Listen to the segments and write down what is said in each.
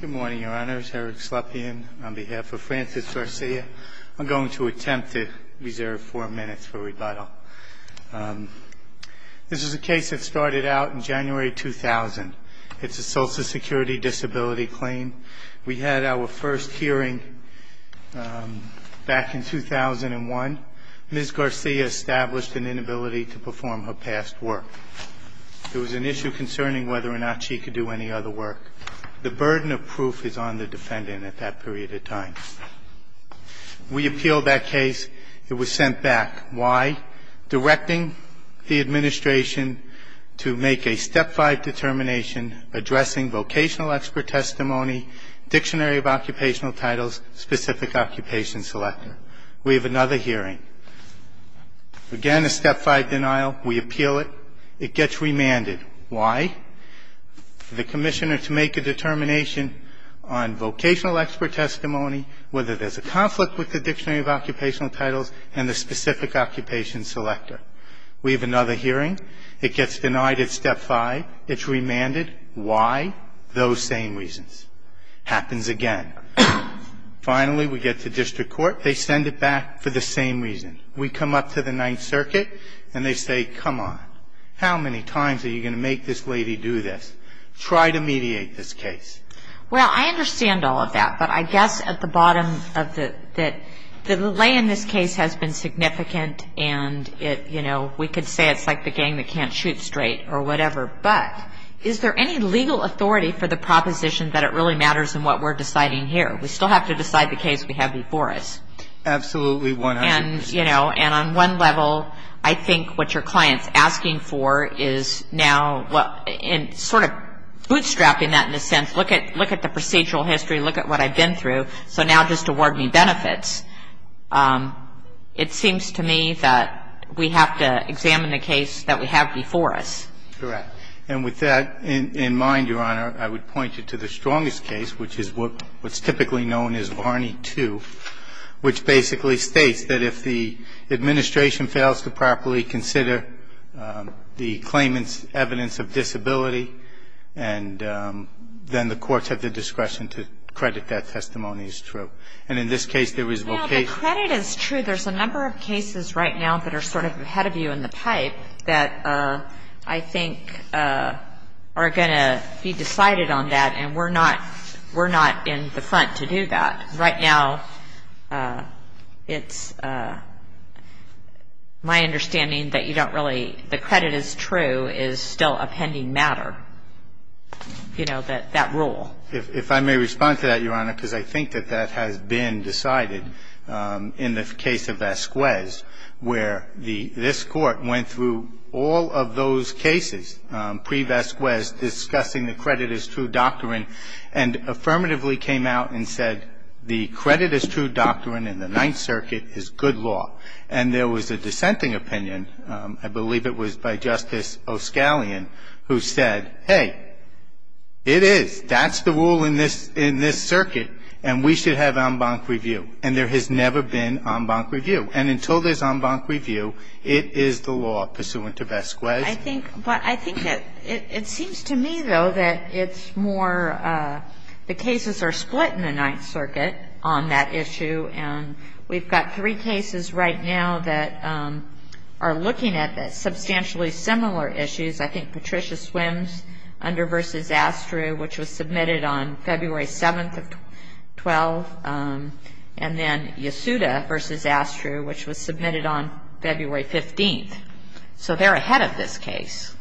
Good morning, your honors. Eric Slepian on behalf of Francis Garcia. I'm going to attempt to reserve four minutes for rebuttal. This is a case that started out in January 2000. It's a social security disability claim. We had our first hearing back in 2001. Ms. Garcia established an inability to perform her past work. It was an issue concerning whether or not she could do any other work. The burden of proof is on the defendant at that period of time. We appealed that case. It was sent back. Why? Directing the administration to make a step five determination addressing vocational expert testimony, dictionary of occupational titles, specific occupation selector. We have another hearing. Again, a step five denial. We appeal it. It gets remanded. Why? The commissioner to make a determination on vocational expert testimony, whether there's a conflict with the dictionary of occupational titles and the specific occupation selector. We have another hearing. It gets denied at step five. It's remanded. Why? Those same reasons. Happens again. Finally, we get to district court. They send it back for the same reason. We come up to the Ninth Circuit, and they say, come on, how many times are you going to make this lady do this? Try to mediate this case. Well, I understand all of that, but I guess at the bottom of the lay in this case has been significant, and it, you know, we could say it's like the gang that can't shoot straight or whatever. But is there any legal authority for the proposition that it really matters in what we're deciding here? We still have to decide the case we have before us. Absolutely. And, you know, and on one level, I think what your client's asking for is now sort of bootstrapping that in a sense. Look at the procedural history. Look at what I've been through. So now just award me benefits. It seems to me that we have to examine the case that we have before us. Correct. And with that in mind, Your Honor, I would point you to the strongest case, which is what's typically known as Varney 2, which basically states that if the administration fails to properly consider the claimant's evidence of disability, and then the courts have the discretion to credit that testimony as true. Well, the credit is true. There's a number of cases right now that are sort of ahead of you in the pipe that I think are going to be decided on that, and we're not in the front to do that. Right now it's my understanding that you don't really – the credit is true is still a pending matter, you know, that rule. If I may respond to that, Your Honor, because I think that that has been decided in the case of Vasquez, where this Court went through all of those cases pre-Vasquez discussing the credit is true doctrine and affirmatively came out and said the credit is true doctrine in the Ninth Circuit is good law. And there was a dissenting opinion. I believe it was by Justice O'Scallion who said, hey, it is. That's the rule in this circuit, and we should have en banc review. And there has never been en banc review. And until there's en banc review, it is the law pursuant to Vasquez. I think – but I think that it seems to me, though, that it's more the cases are split in the Ninth Circuit on that issue. And we've got three cases right now that are looking at substantially similar issues. I think Patricia Swims under v. Astru, which was submitted on February 7th of 12, and then Yesuda v. Astru, which was submitted on February 15th. So they're ahead of this case.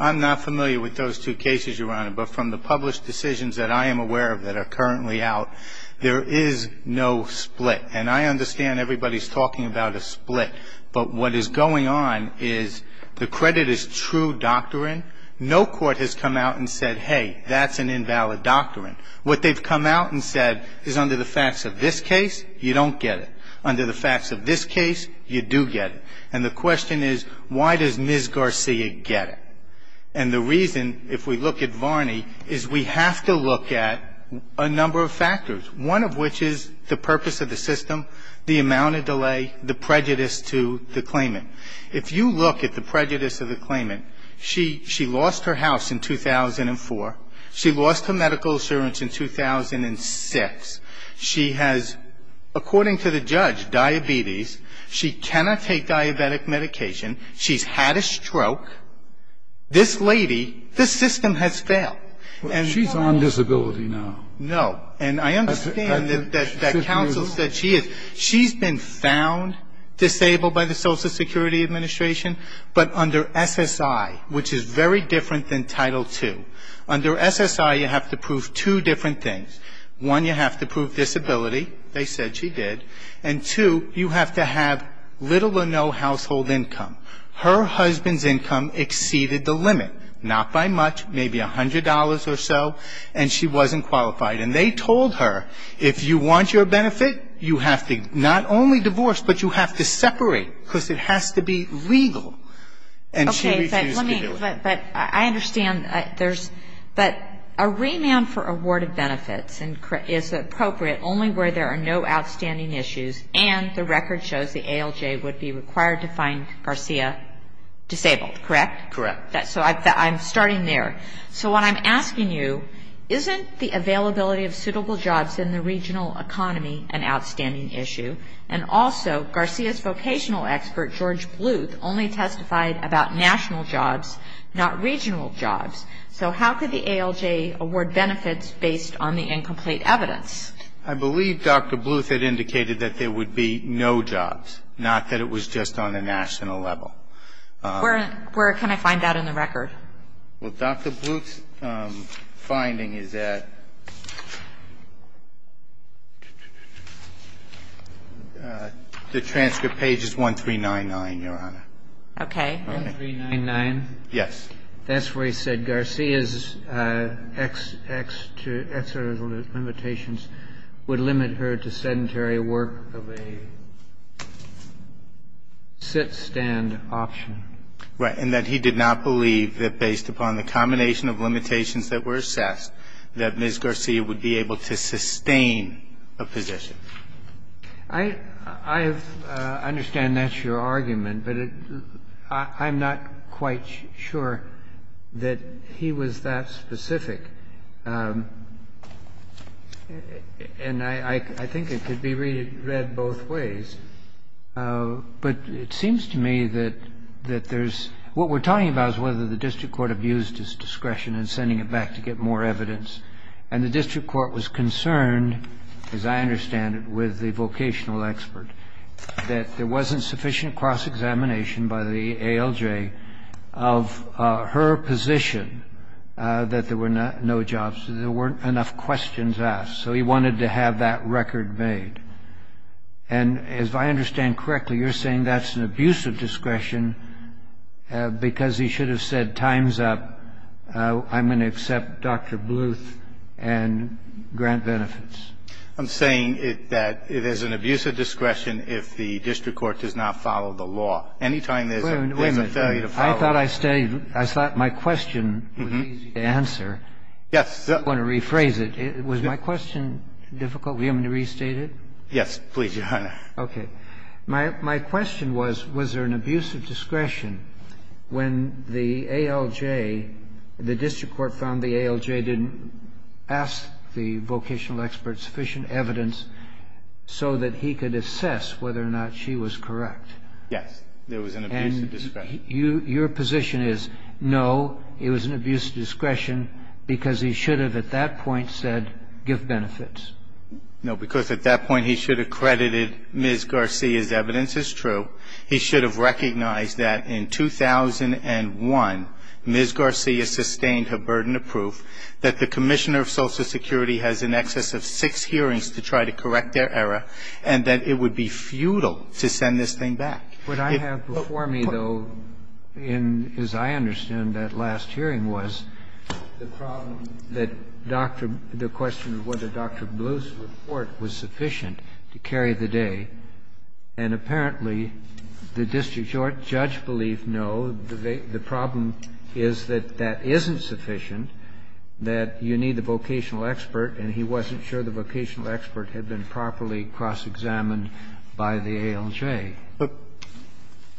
I'm not familiar with those two cases, Your Honor. But from the published decisions that I am aware of that are currently out, there is no split. And I understand everybody's talking about a split. But what is going on is the credit is true doctrine. No court has come out and said, hey, that's an invalid doctrine. What they've come out and said is under the facts of this case, you don't get it. Under the facts of this case, you do get it. And the question is, why does Ms. Garcia get it? And the reason, if we look at Varney, is we have to look at a number of factors, one of which is the purpose of the system, the amount of delay, the prejudice to the claimant. If you look at the prejudice of the claimant, she lost her house in 2004. She lost her medical insurance in 2006. She has, according to the judge, diabetes. She cannot take diabetic medication. She's had a stroke. This lady, this system has failed. And she's on disability now. No. And I understand that counsel said she is. She's been found disabled by the Social Security Administration. But under SSI, which is very different than Title II, under SSI, you have to prove two different things. One, you have to prove disability. They said she did. And two, you have to have little or no household income. Her husband's income exceeded the limit, not by much, maybe $100 or so, and she wasn't qualified. And they told her, if you want your benefit, you have to not only divorce, but you have to separate, because it has to be legal. And she refused to do it. Okay. But let me – but I understand there's – but a remand for awarded benefits is appropriate only where there are no outstanding issues and the record shows the ALJ would be required to find Garcia disabled, correct? Correct. So I'm starting there. So what I'm asking you, isn't the availability of suitable jobs in the regional economy an outstanding issue? And also, Garcia's vocational expert, George Bluth, only testified about national jobs, not regional jobs. So how could the ALJ award benefits based on the incomplete evidence? I believe Dr. Bluth had indicated that there would be no jobs, not that it was just on a national level. Where can I find that in the record? Well, Dr. Bluth's finding is that the transcript page is 1399, Your Honor. Okay. 1399? Yes. That's where he said Garcia's extra limitations would limit her to sedentary work of a sit-stand option. Right. And that he did not believe that based upon the combination of limitations that were assessed, that Ms. Garcia would be able to sustain a position. I understand that's your argument, but I'm not quite sure that he was that specific. And I think it could be read both ways. But it seems to me that there's what we're talking about is whether the district court abused his discretion in sending it back to get more evidence. And the district court was concerned, as I understand it, with the vocational expert, that there wasn't sufficient cross-examination by the ALJ of her position that there were no jobs, that there weren't enough questions asked. So he wanted to have that record made. And if I understand correctly, you're saying that's an abuse of discretion because he should have said, time's up. I'm going to accept Dr. Bluth and grant benefits. I'm saying that it is an abuse of discretion if the district court does not follow the law. Any time there's a failure to follow the law. Wait a minute. I thought my question was easy to answer. Yes. I want to rephrase it. Was my question difficult for you to restate it? Yes, please, Your Honor. Okay. My question was, was there an abuse of discretion when the ALJ, the district court found the ALJ didn't ask the vocational expert sufficient evidence so that he could assess whether or not she was correct? Yes. There was an abuse of discretion. And your position is, no, it was an abuse of discretion because he should have at that point said, give benefits. No, because at that point he should have credited Ms. Garcia's evidence as true. He should have recognized that in 2001, Ms. Garcia sustained her burden of proof that the Commissioner of Social Security has in excess of six hearings to try to correct their error, and that it would be futile to send this thing back. What I have before me, though, in as I understand that last hearing was the problem that Dr. the question of whether Dr. Bluth's report was sufficient to carry the day. And apparently the district court judge believed, no, the problem is that that isn't sufficient, that you need the vocational expert, and he wasn't sure the vocational expert had been properly cross-examined by the ALJ.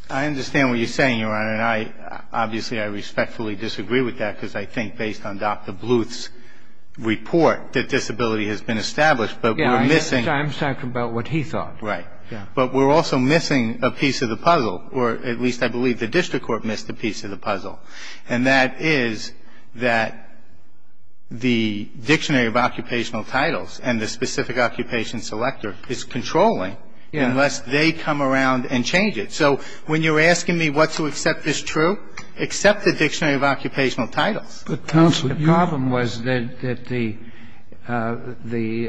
I understand what you're saying, Your Honor. And I, obviously, I respectfully disagree with that because I think based on Dr. Bluth's report that disability has been established, but we're missing. I'm talking about what he thought. Right. But we're also missing a piece of the puzzle, or at least I believe the district court missed a piece of the puzzle, and that is that the dictionary of occupational titles and the specific occupation selector is controlling unless they come around and change it. So when you're asking me what to accept is true, accept the dictionary of occupational titles. But, counsel, you're The problem was that the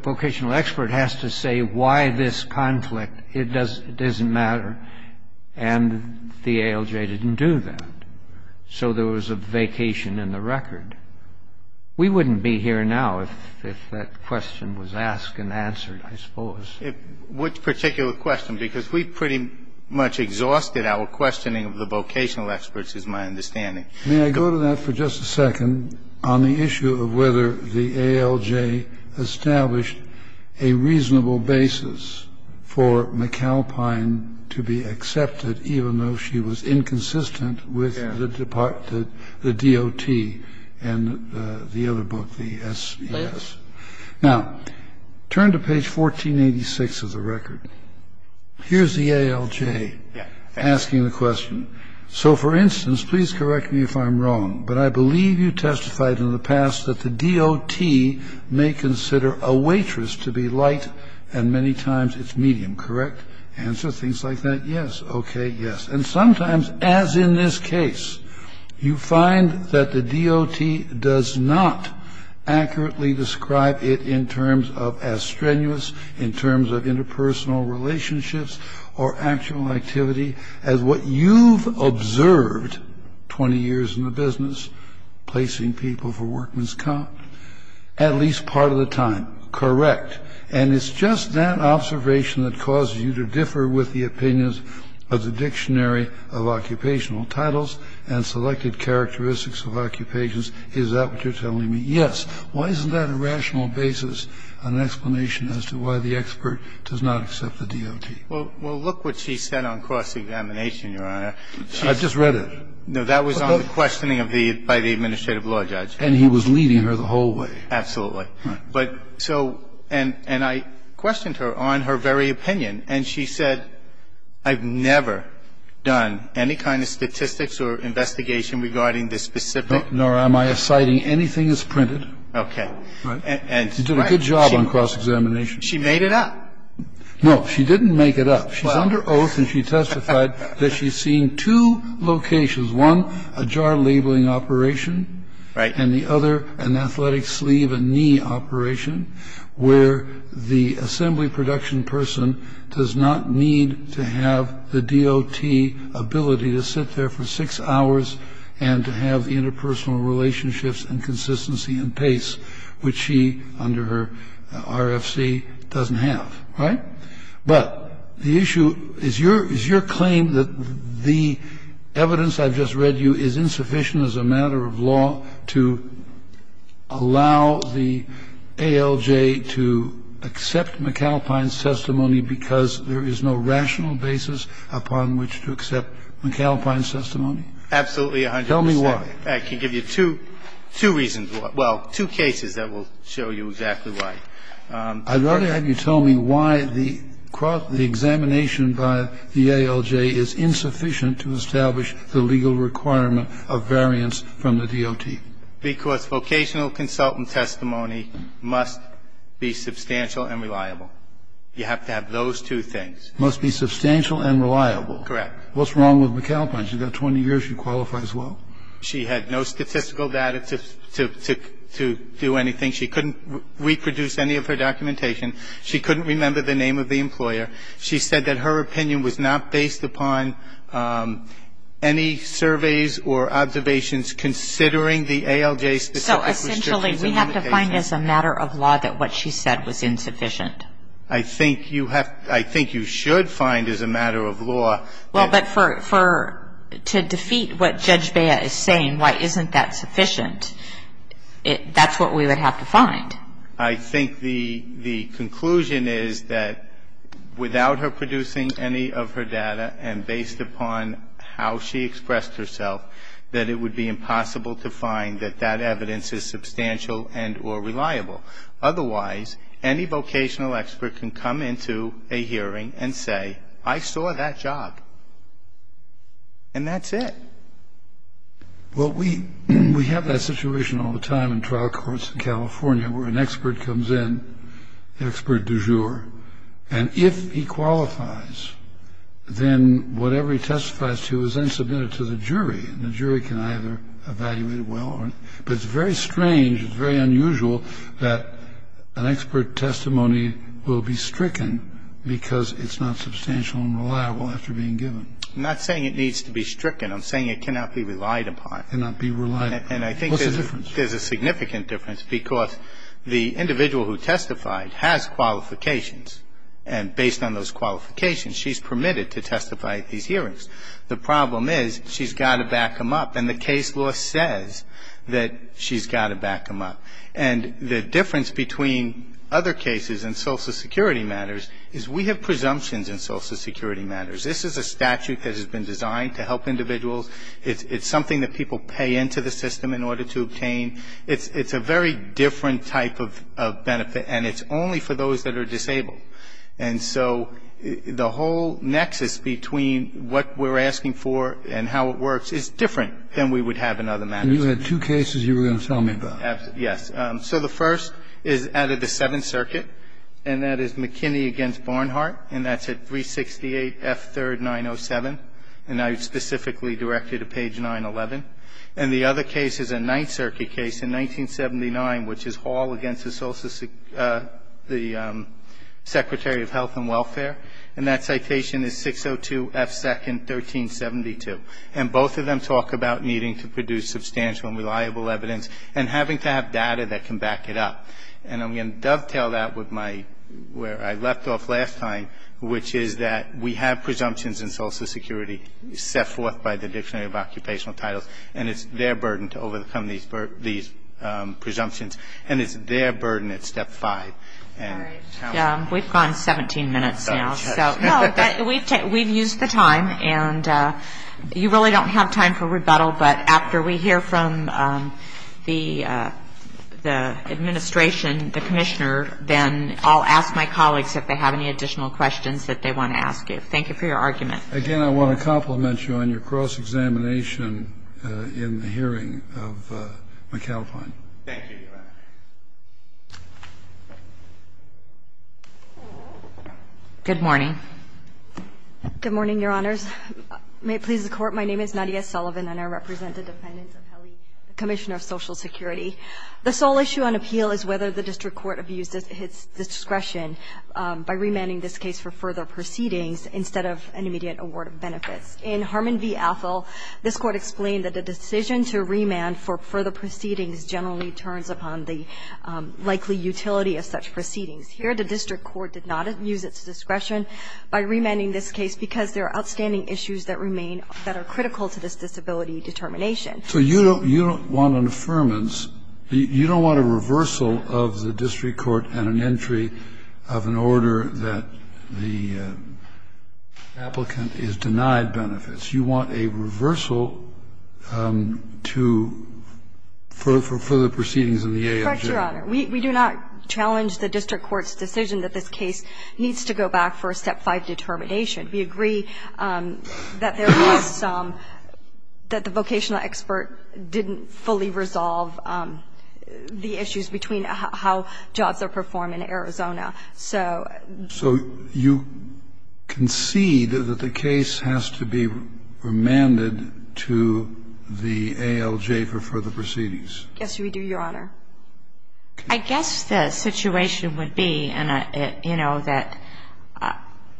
vocational expert has to say why this conflict. It doesn't matter. And the ALJ didn't do that. So there was a vacation in the record. We wouldn't be here now if that question was asked and answered, I suppose. Which particular question? Because we pretty much exhausted our questioning of the vocational experts, is my understanding. May I go to that for just a second on the issue of whether the ALJ established a reasonable basis for McAlpine to be accepted, even though she was inconsistent with the DOT and the other book, the SES? Yes. Now, turn to page 1486 of the record. Here's the ALJ asking the question. So, for instance, please correct me if I'm wrong, but I believe you testified in the past that the DOT may consider a waitress to be light, and many times it's medium, correct? Answer, things like that, yes, okay, yes. And sometimes, as in this case, you find that the DOT does not accurately describe it in terms of as strenuous, in terms of interpersonal relationships, or actual activity as what you've observed 20 years in the business, placing people for workman's comp, at least part of the time, correct? And it's just that observation that causes you to differ with the opinions of the Dictionary of Occupational Titles and Selected Characteristics of Occupations. Is that what you're telling me? Yes. I'm saying that the DOT does not accept a waitress. Why isn't that a rational basis, an explanation as to why the expert does not accept Well, look what she said on cross-examination, Your Honor. I just read it. No, that was on the questioning of the by the administrative law judge. And he was leading her the whole way. Absolutely. But so, and I questioned her on her very opinion. And she said, I've never done any kind of statistics or investigation regarding this specific. Nor am I citing anything that's printed. Okay. Right. And she did a good job on cross-examination. She made it up. No, she didn't make it up. She's under oath and she testified that she's seen two locations. One, a jar labeling operation. Right. And the other, an athletic sleeve and knee operation where the assembly production person does not need to have the DOT ability to sit there for six hours and to have interpersonal relationships and consistency and pace, which she under her RFC doesn't have. Right. But the issue is your is your claim that the evidence I've just read you is insufficient as a matter of law to allow the ALJ to accept McAlpine's testimony because there is no rational basis upon which to accept McAlpine's testimony? Absolutely, Your Honor. Tell me why. I can give you two reasons why. Well, two cases that will show you exactly why. I'd rather have you tell me why the cross-examination by the ALJ is insufficient to establish the legal requirement of variance from the DOT. Because vocational consultant testimony must be substantial and reliable. You have to have those two things. Must be substantial and reliable. Correct. What's wrong with McAlpine? She's got 20 years. She qualifies well. She had no statistical data to do anything. She couldn't reproduce any of her documentation. She couldn't remember the name of the employer. She said that her opinion was not based upon any surveys or observations considering the ALJ's specific restrictions and limitations. So essentially we have to find as a matter of law that what she said was insufficient. I think you have to ‑‑ I think you should find as a matter of law. Well, but for ‑‑ to defeat what Judge Bea is saying, why isn't that sufficient, that's what we would have to find. I think the conclusion is that without her producing any of her data and based upon how she expressed herself, that it would be impossible to find that that evidence is substantial and or reliable. Otherwise, any vocational expert can come into a hearing and say, I saw that job, and that's it. Well, we have that situation all the time in trial courts in California where an expert comes in, expert du jour, and if he qualifies, then whatever he testifies to is then submitted to the jury, and the jury can either evaluate it well or not. But it's very strange, it's very unusual, that an expert testimony will be stricken because it's not substantial and reliable after being given. I'm not saying it needs to be stricken, I'm saying it cannot be relied upon. Cannot be relied upon. What's the difference? And I think there's a significant difference because the individual who testified has qualifications, and based on those qualifications, she's permitted to testify at these hearings. The problem is she's got to back them up, and the case law says that she's got to back them up. And the difference between other cases and social security matters is we have presumptions in social security matters. This is a statute that has been designed to help individuals. It's something that people pay into the system in order to obtain. It's a very different type of benefit, and it's only for those that are disabled. And so the whole nexus between what we're asking for and how it works is different than we would have in other matters. And you had two cases you were going to tell me about. Yes. So the first is out of the Seventh Circuit, and that is McKinney v. Barnhart, and that's at 368 F. 3rd, 907, and I specifically directed to page 911. And the other case is a Ninth Circuit case in 1979, which is Hall v. Secretary of Health and Welfare, and that citation is 602 F. 2nd, 1372. And both of them talk about needing to produce substantial and reliable evidence and having to have data that can back it up. And I'm going to dovetail that with where I left off last time, which is that we have presumptions in Social Security set forth by the Dictionary of Occupational Titles, and it's their burden to overcome these presumptions, and it's their burden at Step 5. All right. We've gone 17 minutes now. No, but we've used the time, and you really don't have time for rebuttal, but after we hear from the administration, the Commissioner, then I'll ask my colleagues if they have any additional questions that they want to ask you. Thank you for your argument. Again, I want to compliment you on your cross-examination in the hearing of McAlpine. Thank you, Your Honor. Good morning. Good morning, Your Honors. May it please the Court. My name is Nadia Sullivan, and I represent the defendants of Helley, the Commissioner of Social Security. The sole issue on appeal is whether the district court abused its discretion by remanding this case for further proceedings instead of an immediate award of benefits. In Harmon v. Athol, this Court explained that the decision to remand for further proceedings generally turns upon the likely utility of such proceedings. Here, the district court did not abuse its discretion by remanding this case because there are outstanding issues that remain that are critical to this disability determination. So you don't want an affirmance. You don't want a reversal of the district court and an entry of an order that the applicant is denied benefits. You want a reversal to further proceedings in the ALJ. Correct, Your Honor. We do not challenge the district court's decision that this case needs to go back for a Step 5 determination. We agree that there was some, that the vocational expert didn't fully resolve the issues between how jobs are performed in Arizona. So you concede that the case has to be remanded to the ALJ for further proceedings? Yes, we do, Your Honor. I guess the situation would be, you know, that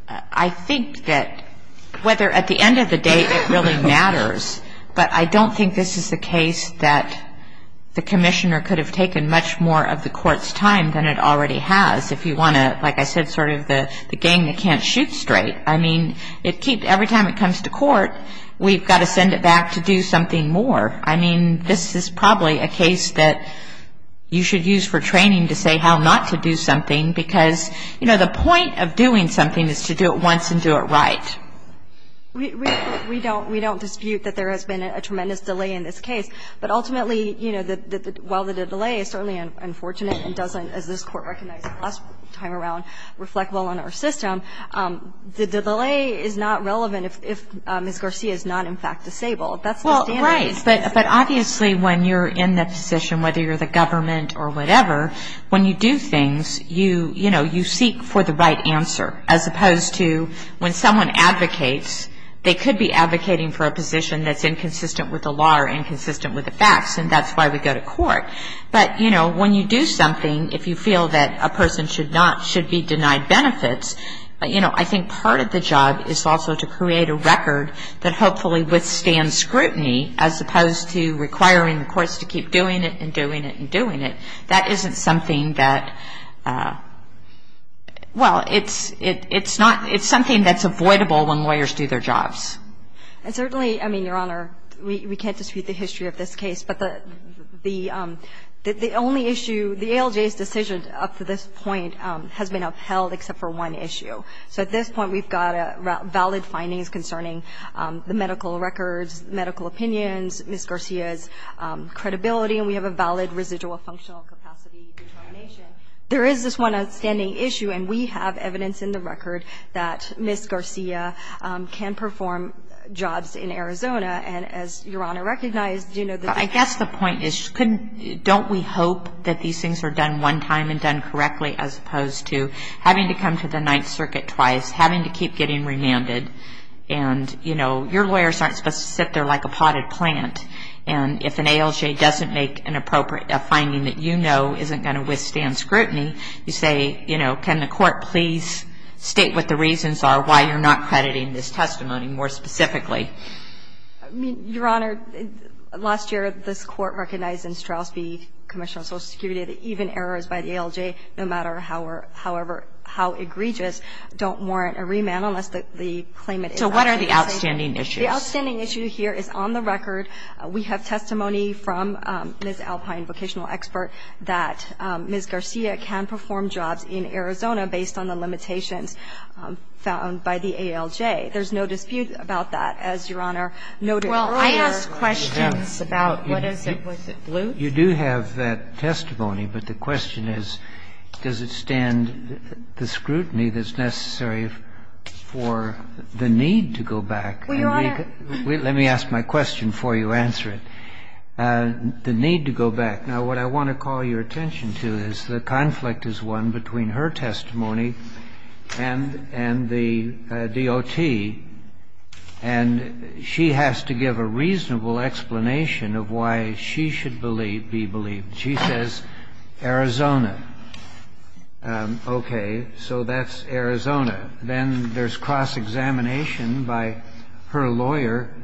I think that whether at the end of the day it really matters, but I don't think this is the case that the Commissioner could have taken much more of the Court's time than it already has if you want to, like I said, sort of the gang that can't shoot straight. I mean, it keeps, every time it comes to court, we've got to send it back to do something more. I mean, this is probably a case that you should use for training to say how not to do something, because, you know, the point of doing something is to do it once and do it right. We don't dispute that there has been a tremendous delay in this case. But ultimately, you know, while the delay is certainly unfortunate and doesn't, as this Court recognized last time around, reflect well on our system, the delay is not relevant if Ms. Garcia is not in fact disabled. That's the standard. Right. But obviously when you're in that position, whether you're the government or whatever, when you do things, you, you know, you seek for the right answer, as opposed to when someone advocates, they could be advocating for a position that's inconsistent with the law or inconsistent with the facts, and that's why we go to court. But, you know, when you do something, if you feel that a person should not, should be denied benefits, you know, I think part of the job is also to create a situation where, you know, there's a delay, and there's a delay, and there's a delay, and there's a delay, and there's a delay, and there's a delay, as opposed to requiring the courts to keep doing it and doing it and doing it, that isn't something that, well, it's, it's not, it's something that's avoidable when lawyers do their jobs. And certainly, I mean, Your Honor, we can't dispute the history of this case, but the, the only issue, the ALJ's decision up to this point has been upheld except for one issue. So at this point, we've got valid findings concerning the medical records, medical opinions, Ms. Garcia's credibility, and we have a valid residual functional capacity determination. There is this one outstanding issue, and we have evidence in the record that Ms. Garcia can perform jobs in Arizona, and as Your Honor recognized, you know, the point is, don't we hope that these things are done one time and done correctly as opposed to having to come to the Ninth Circuit twice, having to keep getting remanded, and, you know, your lawyers aren't supposed to sit there like a potted plant, and if an ALJ doesn't make an appropriate, a finding that you know isn't going to withstand scrutiny, you say, you know, can the Court please state what the reasons are, why you're not crediting this testimony more specifically? Your Honor, last year, this Court recognized in Straus v. Commission on Social Security that even errors by the ALJ, no matter how egregious, don't warrant a remand unless the claimant is out. So what are the outstanding issues? The outstanding issue here is on the record, we have testimony from Ms. Alpine, vocational expert, that Ms. Garcia can perform jobs in Arizona based on the evidence found by the ALJ. There's no dispute about that, as Your Honor noted earlier. Well, I asked questions about what is it, was it blue? You do have that testimony, but the question is, does it stand the scrutiny that's necessary for the need to go back? Well, Your Honor. Let me ask my question before you answer it. The need to go back. Now, what I want to call your attention to is the conflict is won between her testimony and the DOT, and she has to give a reasonable explanation of why she should believe, be believed. She says Arizona. Okay. So that's Arizona. Then there's cross-examination by her lawyer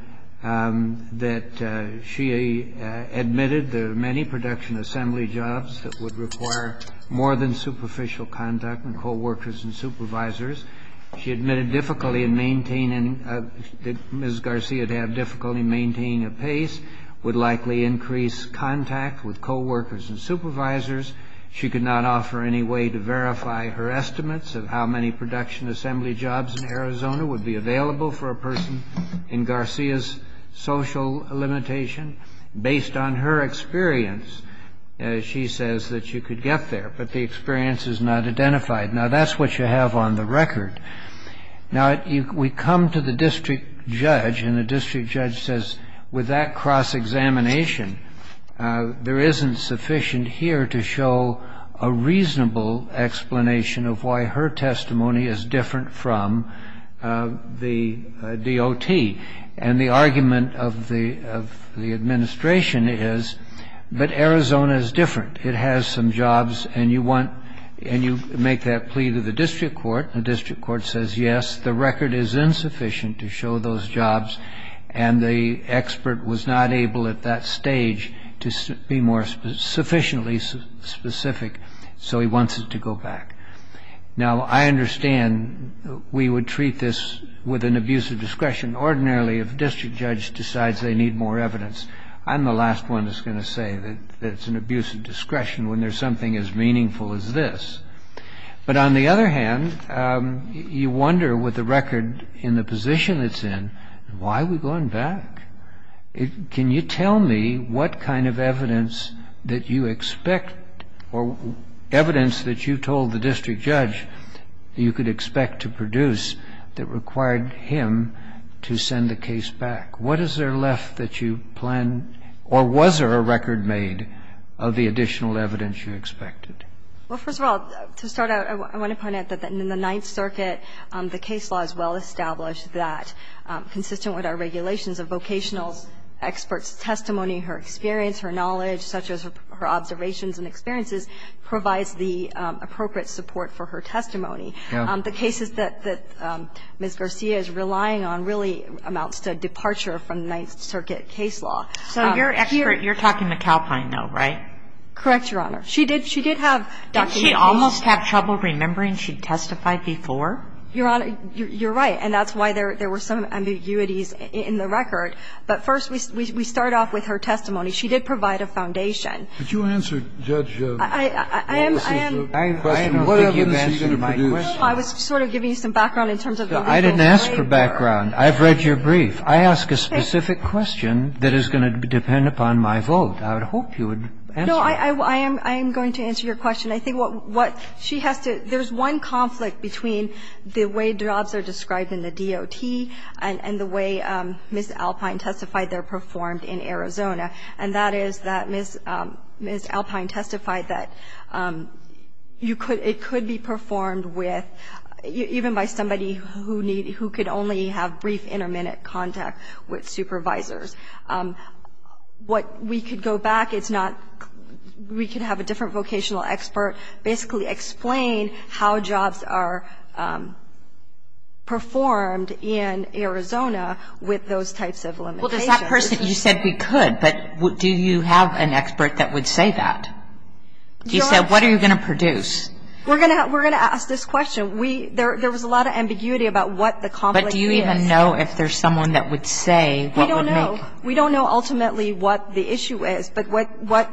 that she admitted there are many production assembly jobs that would require more than superficial conduct and that Ms. Garcia would have difficulty maintaining a pace, would likely increase contact with coworkers and supervisors. She could not offer any way to verify her estimates of how many production assembly jobs in Arizona would be available for a person in Garcia's social limitation. Based on her experience, she says that she could get there, but the experience is not identified. Now, that's what you have on the record. Now, we come to the district judge, and the district judge says with that cross-examination, there isn't sufficient here to show a reasonable explanation of why her testimony is different from the DOT. And the argument of the administration is that Arizona is different. It has some jobs, and you want to make that plea to the district court, and the district court says, yes, the record is insufficient to show those jobs, and the expert was not able at that stage to be more sufficiently specific, so he wants it to go back. Now, I understand we would treat this with an abuse of discretion. Ordinarily, if a district judge decides they need more evidence, I'm the last one that's going to say that it's an abuse of discretion when there's something as meaningful as this. But on the other hand, you wonder with the record in the position it's in, why are we going back? Can you tell me what kind of evidence that you expect or evidence that you told the district judge you could expect to produce that required him to send the case back? What is there left that you plan or was there a record made of the additional evidence you expected? Well, first of all, to start out, I want to point out that in the Ninth Circuit, the case law is well established that, consistent with our regulations, a vocational expert's testimony, her experience, her knowledge, such as her observations and experiences, provides the appropriate support for her testimony. The cases that Ms. Garcia is relying on really amounts to departure from the Ninth Circuit case law. So here here. You're talking to Calpine, though, right? Correct, Your Honor. She did have documents. Did she almost have trouble remembering she testified before? Your Honor, you're right. And that's why there were some ambiguities in the record. But first, we start off with her testimony. She did provide a foundation. Could you answer, Judge, what was the question of the evidence she's going to produce? No, I was sort of giving you some background in terms of the legal framework. I didn't ask for background. I've read your brief. I ask a specific question that is going to depend upon my vote. I would hope you would answer it. No, I am going to answer your question. I think what she has to do, there's one conflict between the way jobs are described in the DOT and the way Ms. Alpine testified they're performed in Arizona, and that is that Ms. Alpine testified that it could be performed with, even by somebody who could only have brief, intermittent contact with supervisors. What we could go back, it's not we could have a different vocational expert basically explain how jobs are performed in Arizona with those types of limitations. Well, does that person, you said we could, but do you have an expert that would say that? Do you say what are you going to produce? We're going to ask this question. We, there was a lot of ambiguity about what the conflict is. But do you even know if there's someone that would say what would make? We don't know. We don't know ultimately what the issue is, but what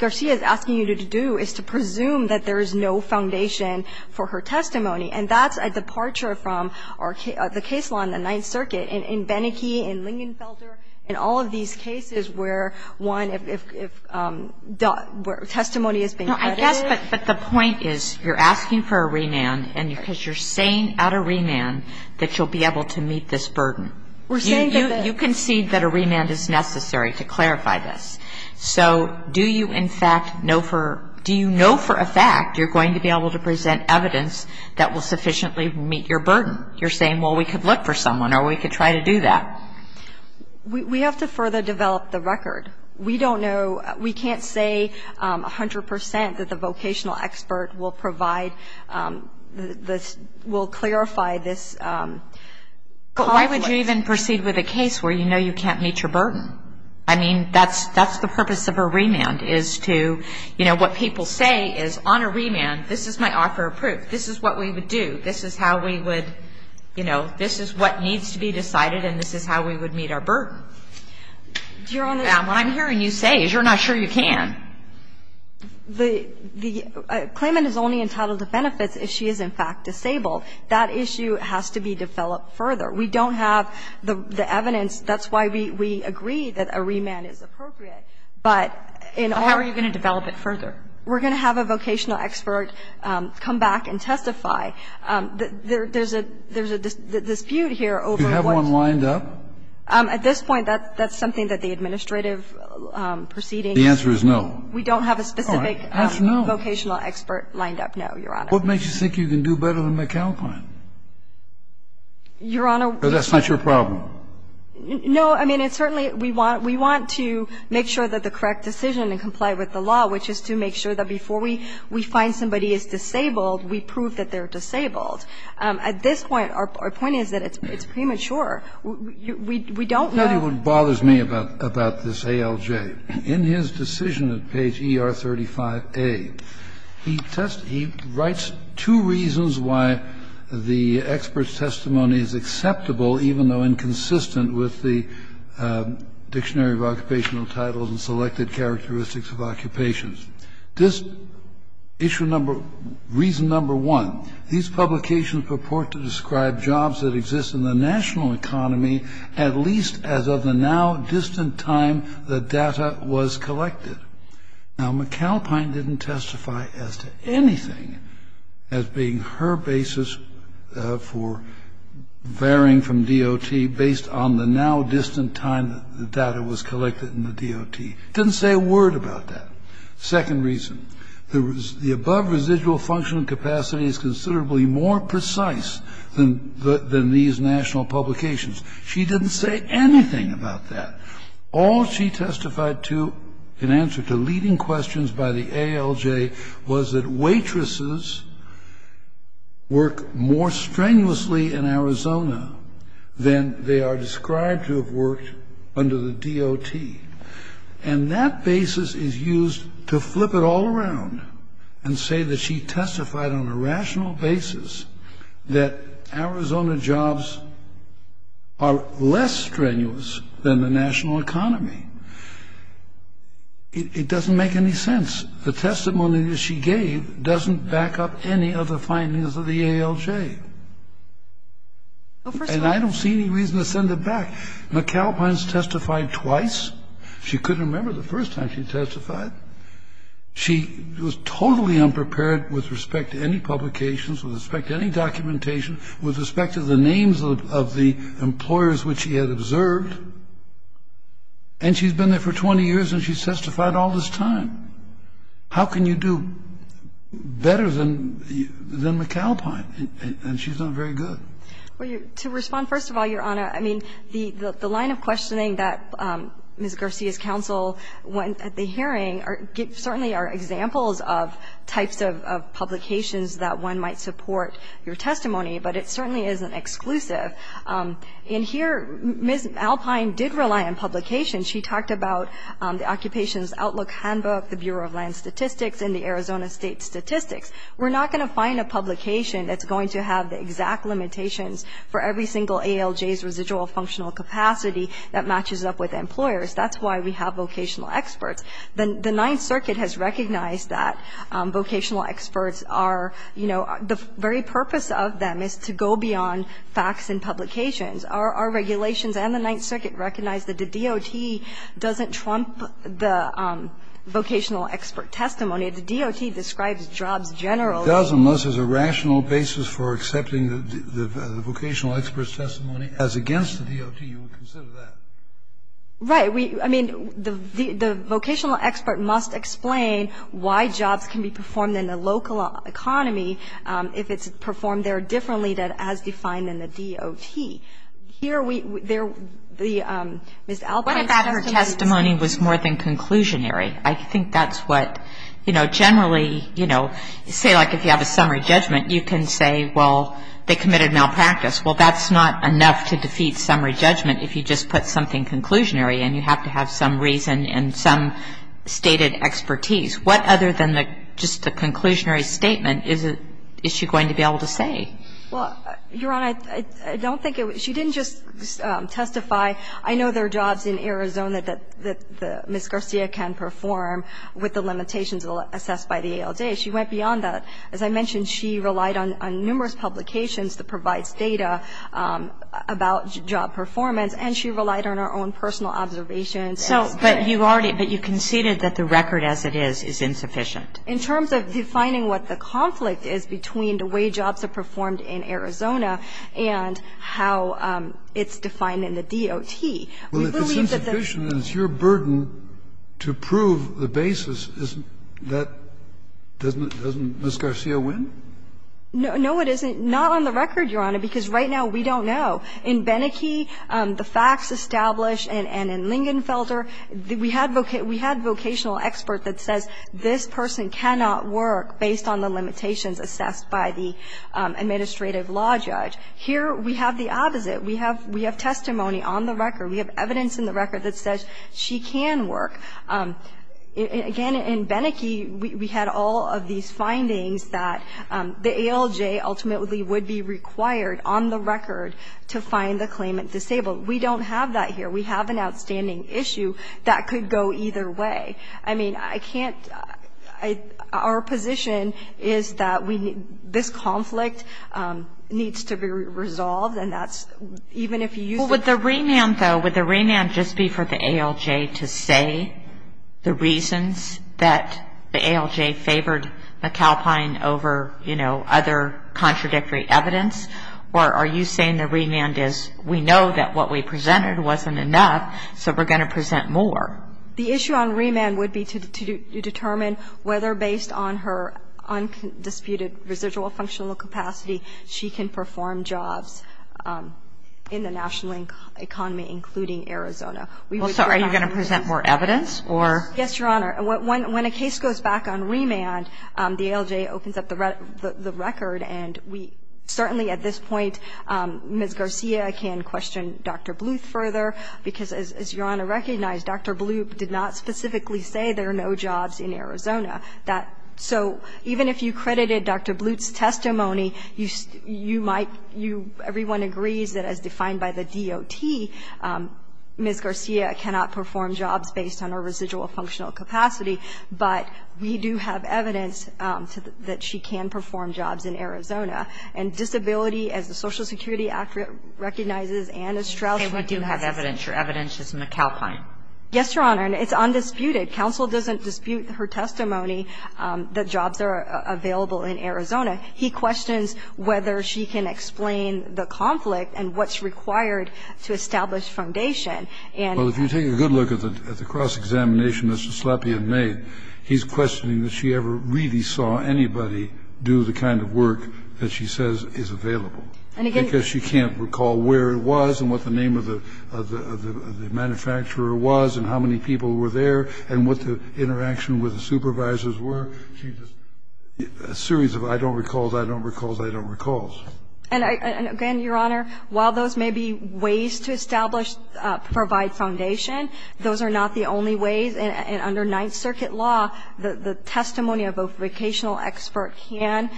Garcia is asking you to do is to presume that there is no foundation for her testimony, and that's a departure from the case law in the Ninth Circuit, in Beneke, in Lingenfelter, in all of these cases where one, if testimony is being credited. No, I guess, but the point is you're asking for a remand because you're saying at a remand that you'll be able to meet this burden. You concede that a remand is necessary to clarify this. So do you, in fact, know for, do you know for a fact you're going to be able to present evidence that will sufficiently meet your burden? You're saying, well, we could look for someone or we could try to do that. We have to further develop the record. We don't know, we can't say 100% that the vocational expert will provide, will clarify this. Why would you even proceed with a case where you know you can't meet your burden? I mean, that's the purpose of a remand is to, you know, what people say is on a remand, this is my offer of proof, this is what we would do, this is how we would, you know, this is what needs to be decided and this is how we would meet our burden. And what I'm hearing you say is you're not sure you can. The claimant is only entitled to benefits if she is, in fact, disabled. That issue has to be developed further. We don't have the evidence. That's why we agree that a remand is appropriate. But in our. But how are you going to develop it further? We're going to have a vocational expert come back and testify. There's a dispute here over what. Do you have one lined up? At this point, that's something that the administrative proceeding. The answer is no. We don't have a specific vocational expert lined up, no, Your Honor. What makes you think you can do better than McAlpine? Your Honor. Because that's not your problem. No. I mean, it's certainly, we want to make sure that the correct decision and comply with the law, which is to make sure that before we find somebody is disabled, we prove that they're disabled. At this point, our point is that it's premature. We don't know. Kennedy, what bothers me about this ALJ, in his decision at page ER35A, he writes two reasons why the expert's testimony is acceptable, even though inconsistent with the Dictionary of Occupational Titles and Selected Characteristics of Occupations. This issue number, reason number one, these publications purport to describe jobs that exist in the national economy at least as of the now distant time the data was collected. Now, McAlpine didn't testify as to anything as being her basis for varying from DOT based on the now distant time the data was collected in the DOT. Didn't say a word about that. Second reason, the above residual functional capacity is considerably more precise than these national publications. She didn't say anything about that. All she testified to in answer to leading questions by the ALJ was that waitresses work more strenuously in Arizona than they are described to have worked under the DOT. And that basis is used to flip it all around and say that she testified on a rational basis that Arizona jobs are less strenuous than the national economy. It doesn't make any sense. The testimony that she gave doesn't back up any of the findings of the ALJ. And I don't see any reason to send it back. McAlpine's testified twice. She couldn't remember the first time she testified. She was totally unprepared with respect to any publications, with respect to any documentation, with respect to the names of the employers which she had observed. And she's been there for 20 years and she testified all this time. How can you do better than McAlpine? And she's done very good. Well, to respond, first of all, Your Honor, I mean, the line of questioning that Ms. Garcia's counsel went at the hearing certainly are examples of types of publications that one might support your testimony, but it certainly isn't exclusive. And here Ms. McAlpine did rely on publications. She talked about the Occupations Outlook Handbook, the Bureau of Land Statistics, and the Arizona State Statistics. We're not going to find a publication that's going to have the exact limitations for every single ALJ's residual functional capacity that matches up with employers. That's why we have vocational experts. The Ninth Circuit has recognized that vocational experts are, you know, the very purpose of them is to go beyond facts and publications. Our regulations and the Ninth Circuit recognize that the DOT doesn't trump the vocational expert testimony. The DOT describes jobs generally. The DOT does, unless there's a rational basis for accepting the vocational expert's testimony as against the DOT, you would consider that. Right. I mean, the vocational expert must explain why jobs can be performed in the local economy if it's performed there differently than as defined in the DOT. Here we there the Ms. Alpine's testimony was more than conclusionary. I think that's what, you know, generally, you know, say, like, if you have a summary judgment, you can say, well, they committed malpractice. Well, that's not enough to defeat summary judgment if you just put something conclusionary and you have to have some reason and some stated expertise. What other than just the conclusionary statement is she going to be able to say? Well, Your Honor, I don't think it was. She didn't just testify, I know there are jobs in Arizona that Ms. Garcia can perform with the limitations assessed by the ALJ. She went beyond that. As I mentioned, she relied on numerous publications that provides data about job performance, and she relied on her own personal observations. So, but you already, but you conceded that the record as it is is insufficient. In terms of defining what the conflict is between the way jobs are performed in Arizona and how it's defined in the DOT. Well, if it's insufficient and it's your burden to prove the basis, isn't that doesn't Ms. Garcia win? No, it isn't. Not on the record, Your Honor, because right now we don't know. In Beneke, the facts established, and in Lingenfelder, we had vocational expert that says this person cannot work based on the limitations assessed by the administrative law judge. Here we have the opposite. We have testimony on the record. We have evidence in the record that says she can work. Again, in Beneke, we had all of these findings that the ALJ ultimately would be required on the record to find the claimant disabled. We don't have that here. We have an outstanding issue that could go either way. I mean, I can't, our position is that this conflict needs to be resolved, and that's even if you use the Would the remand, though, would the remand just be for the ALJ to say the reasons that the ALJ favored McAlpine over, you know, other contradictory evidence? Or are you saying the remand is we know that what we presented wasn't enough, so we're going to present more? The issue on remand would be to determine whether, based on her undisputed residual functional capacity, she can perform jobs in the national economy, including Arizona. We would bring on her. Well, so are you going to present more evidence, or? Yes, Your Honor. When a case goes back on remand, the ALJ opens up the record, and we certainly at this point, Ms. Garcia can question Dr. Bluth further, because as Your Honor recognized, Dr. Bluth did not specifically say there are no jobs in Arizona. That so even if you credited Dr. Bluth's testimony, you might, you, everyone agrees that as defined by the DOT, Ms. Garcia cannot perform jobs based on her residual functional capacity, but we do have evidence that she can perform jobs in Arizona. And disability, as the Social Security Act recognizes and as Strauss recognizes Your evidence is McAlpine. Yes, Your Honor. And it's undisputed. Counsel doesn't dispute her testimony that jobs are available in Arizona. He questions whether she can explain the conflict and what's required to establish foundation. Well, if you take a good look at the cross-examination that Mr. Slapien made, he's questioning that she ever really saw anybody do the kind of work that she says is available, because she can't recall where it was and what the name of the manufacturer was and how many people were there and what the interaction with the supervisors were. She just, a series of I don't recall, I don't recall, I don't recall. And again, Your Honor, while those may be ways to establish, provide foundation, those are not the only ways. And under Ninth Circuit law, the testimony of a vocational expert can,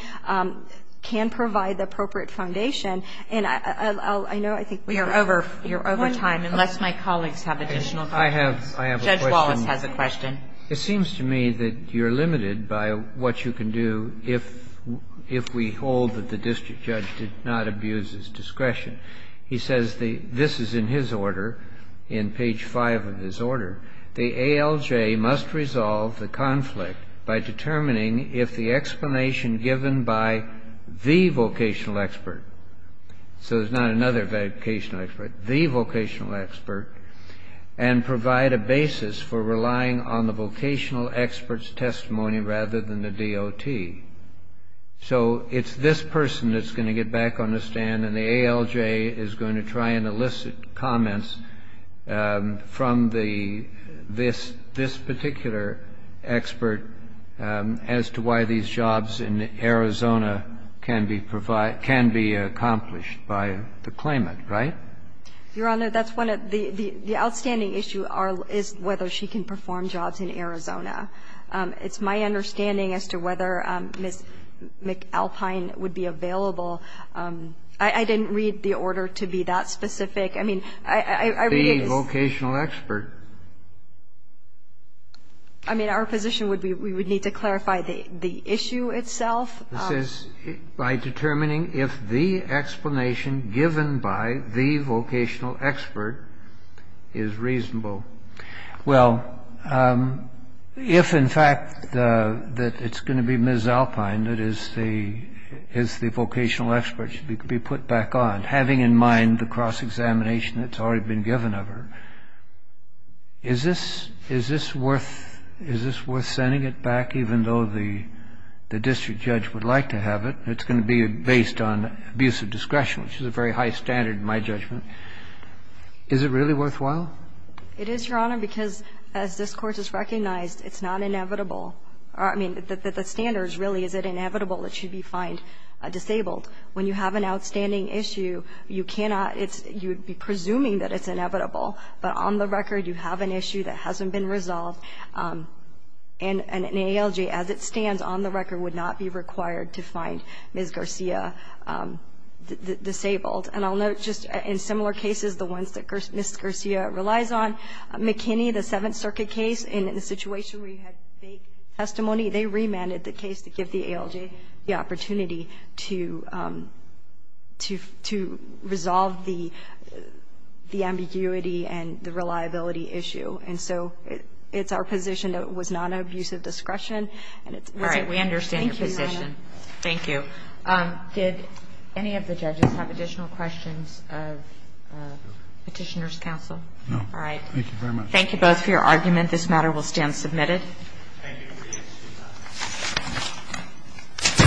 can provide the appropriate foundation. And I'll, I know I think we are over, you're over time, unless my colleagues have additional questions. I have, I have a question. Judge Wallace has a question. It seems to me that you're limited by what you can do if, if we hold that the district judge did not abuse his discretion. He says the, this is in his order, in page 5 of his order, the ALJ must resolve the conflict by determining if the explanation given by the vocational expert So there's not another vocational expert. The vocational expert and provide a basis for relying on the vocational expert's testimony rather than the DOT. So it's this person that's going to get back on the stand and the ALJ is going to try and elicit comments from the, this, this particular expert as to why these jobs in Arizona can be provide, can be accomplished by the claimant, right? Your Honor, that's one of the, the outstanding issue is whether she can perform jobs in Arizona. It's my understanding as to whether Ms. McAlpine would be available. I, I didn't read the order to be that specific. I mean, I, I read it as The vocational expert. I mean, our position would be we would need to clarify the, the issue itself. This is by determining if the explanation given by the vocational expert is reasonable. Well, if in fact the, that it's going to be Ms. Alpine that is the, is the vocational expert should be put back on, having in mind the cross-examination that's already been given of her. Is this, is this worth, is this worth sending it back even though the, the district judge would like to have it? It's going to be based on abusive discretion, which is a very high standard in my judgment. Is it really worthwhile? It is, Your Honor, because as this Court has recognized, it's not inevitable. I mean, the, the standard is really is it inevitable that she'd be fined, disabled. When you have an outstanding issue, you cannot, it's, you would be presuming that it's inevitable. But on the record, you have an issue that hasn't been resolved. And an ALJ, as it stands on the record, would not be required to find Ms. Garcia disabled. And I'll note just in similar cases, the ones that Ms. Garcia relies on, McKinney, the Seventh Circuit case, in the situation where you had fake testimony, they remanded the case to give the ALJ the opportunity to, to, to resolve the, the ambiguity and the reliability issue. And so it, it's our position that it was not an abusive discretion, and it's not an abusive discretion. We understand your position. Thank you, Your Honor. Thank you. Did any of the judges have additional questions of Petitioner's counsel? No. All right. Thank you very much. Thank you both for your argument. This matter will stand submitted. Thank you. Thank you. Thank you.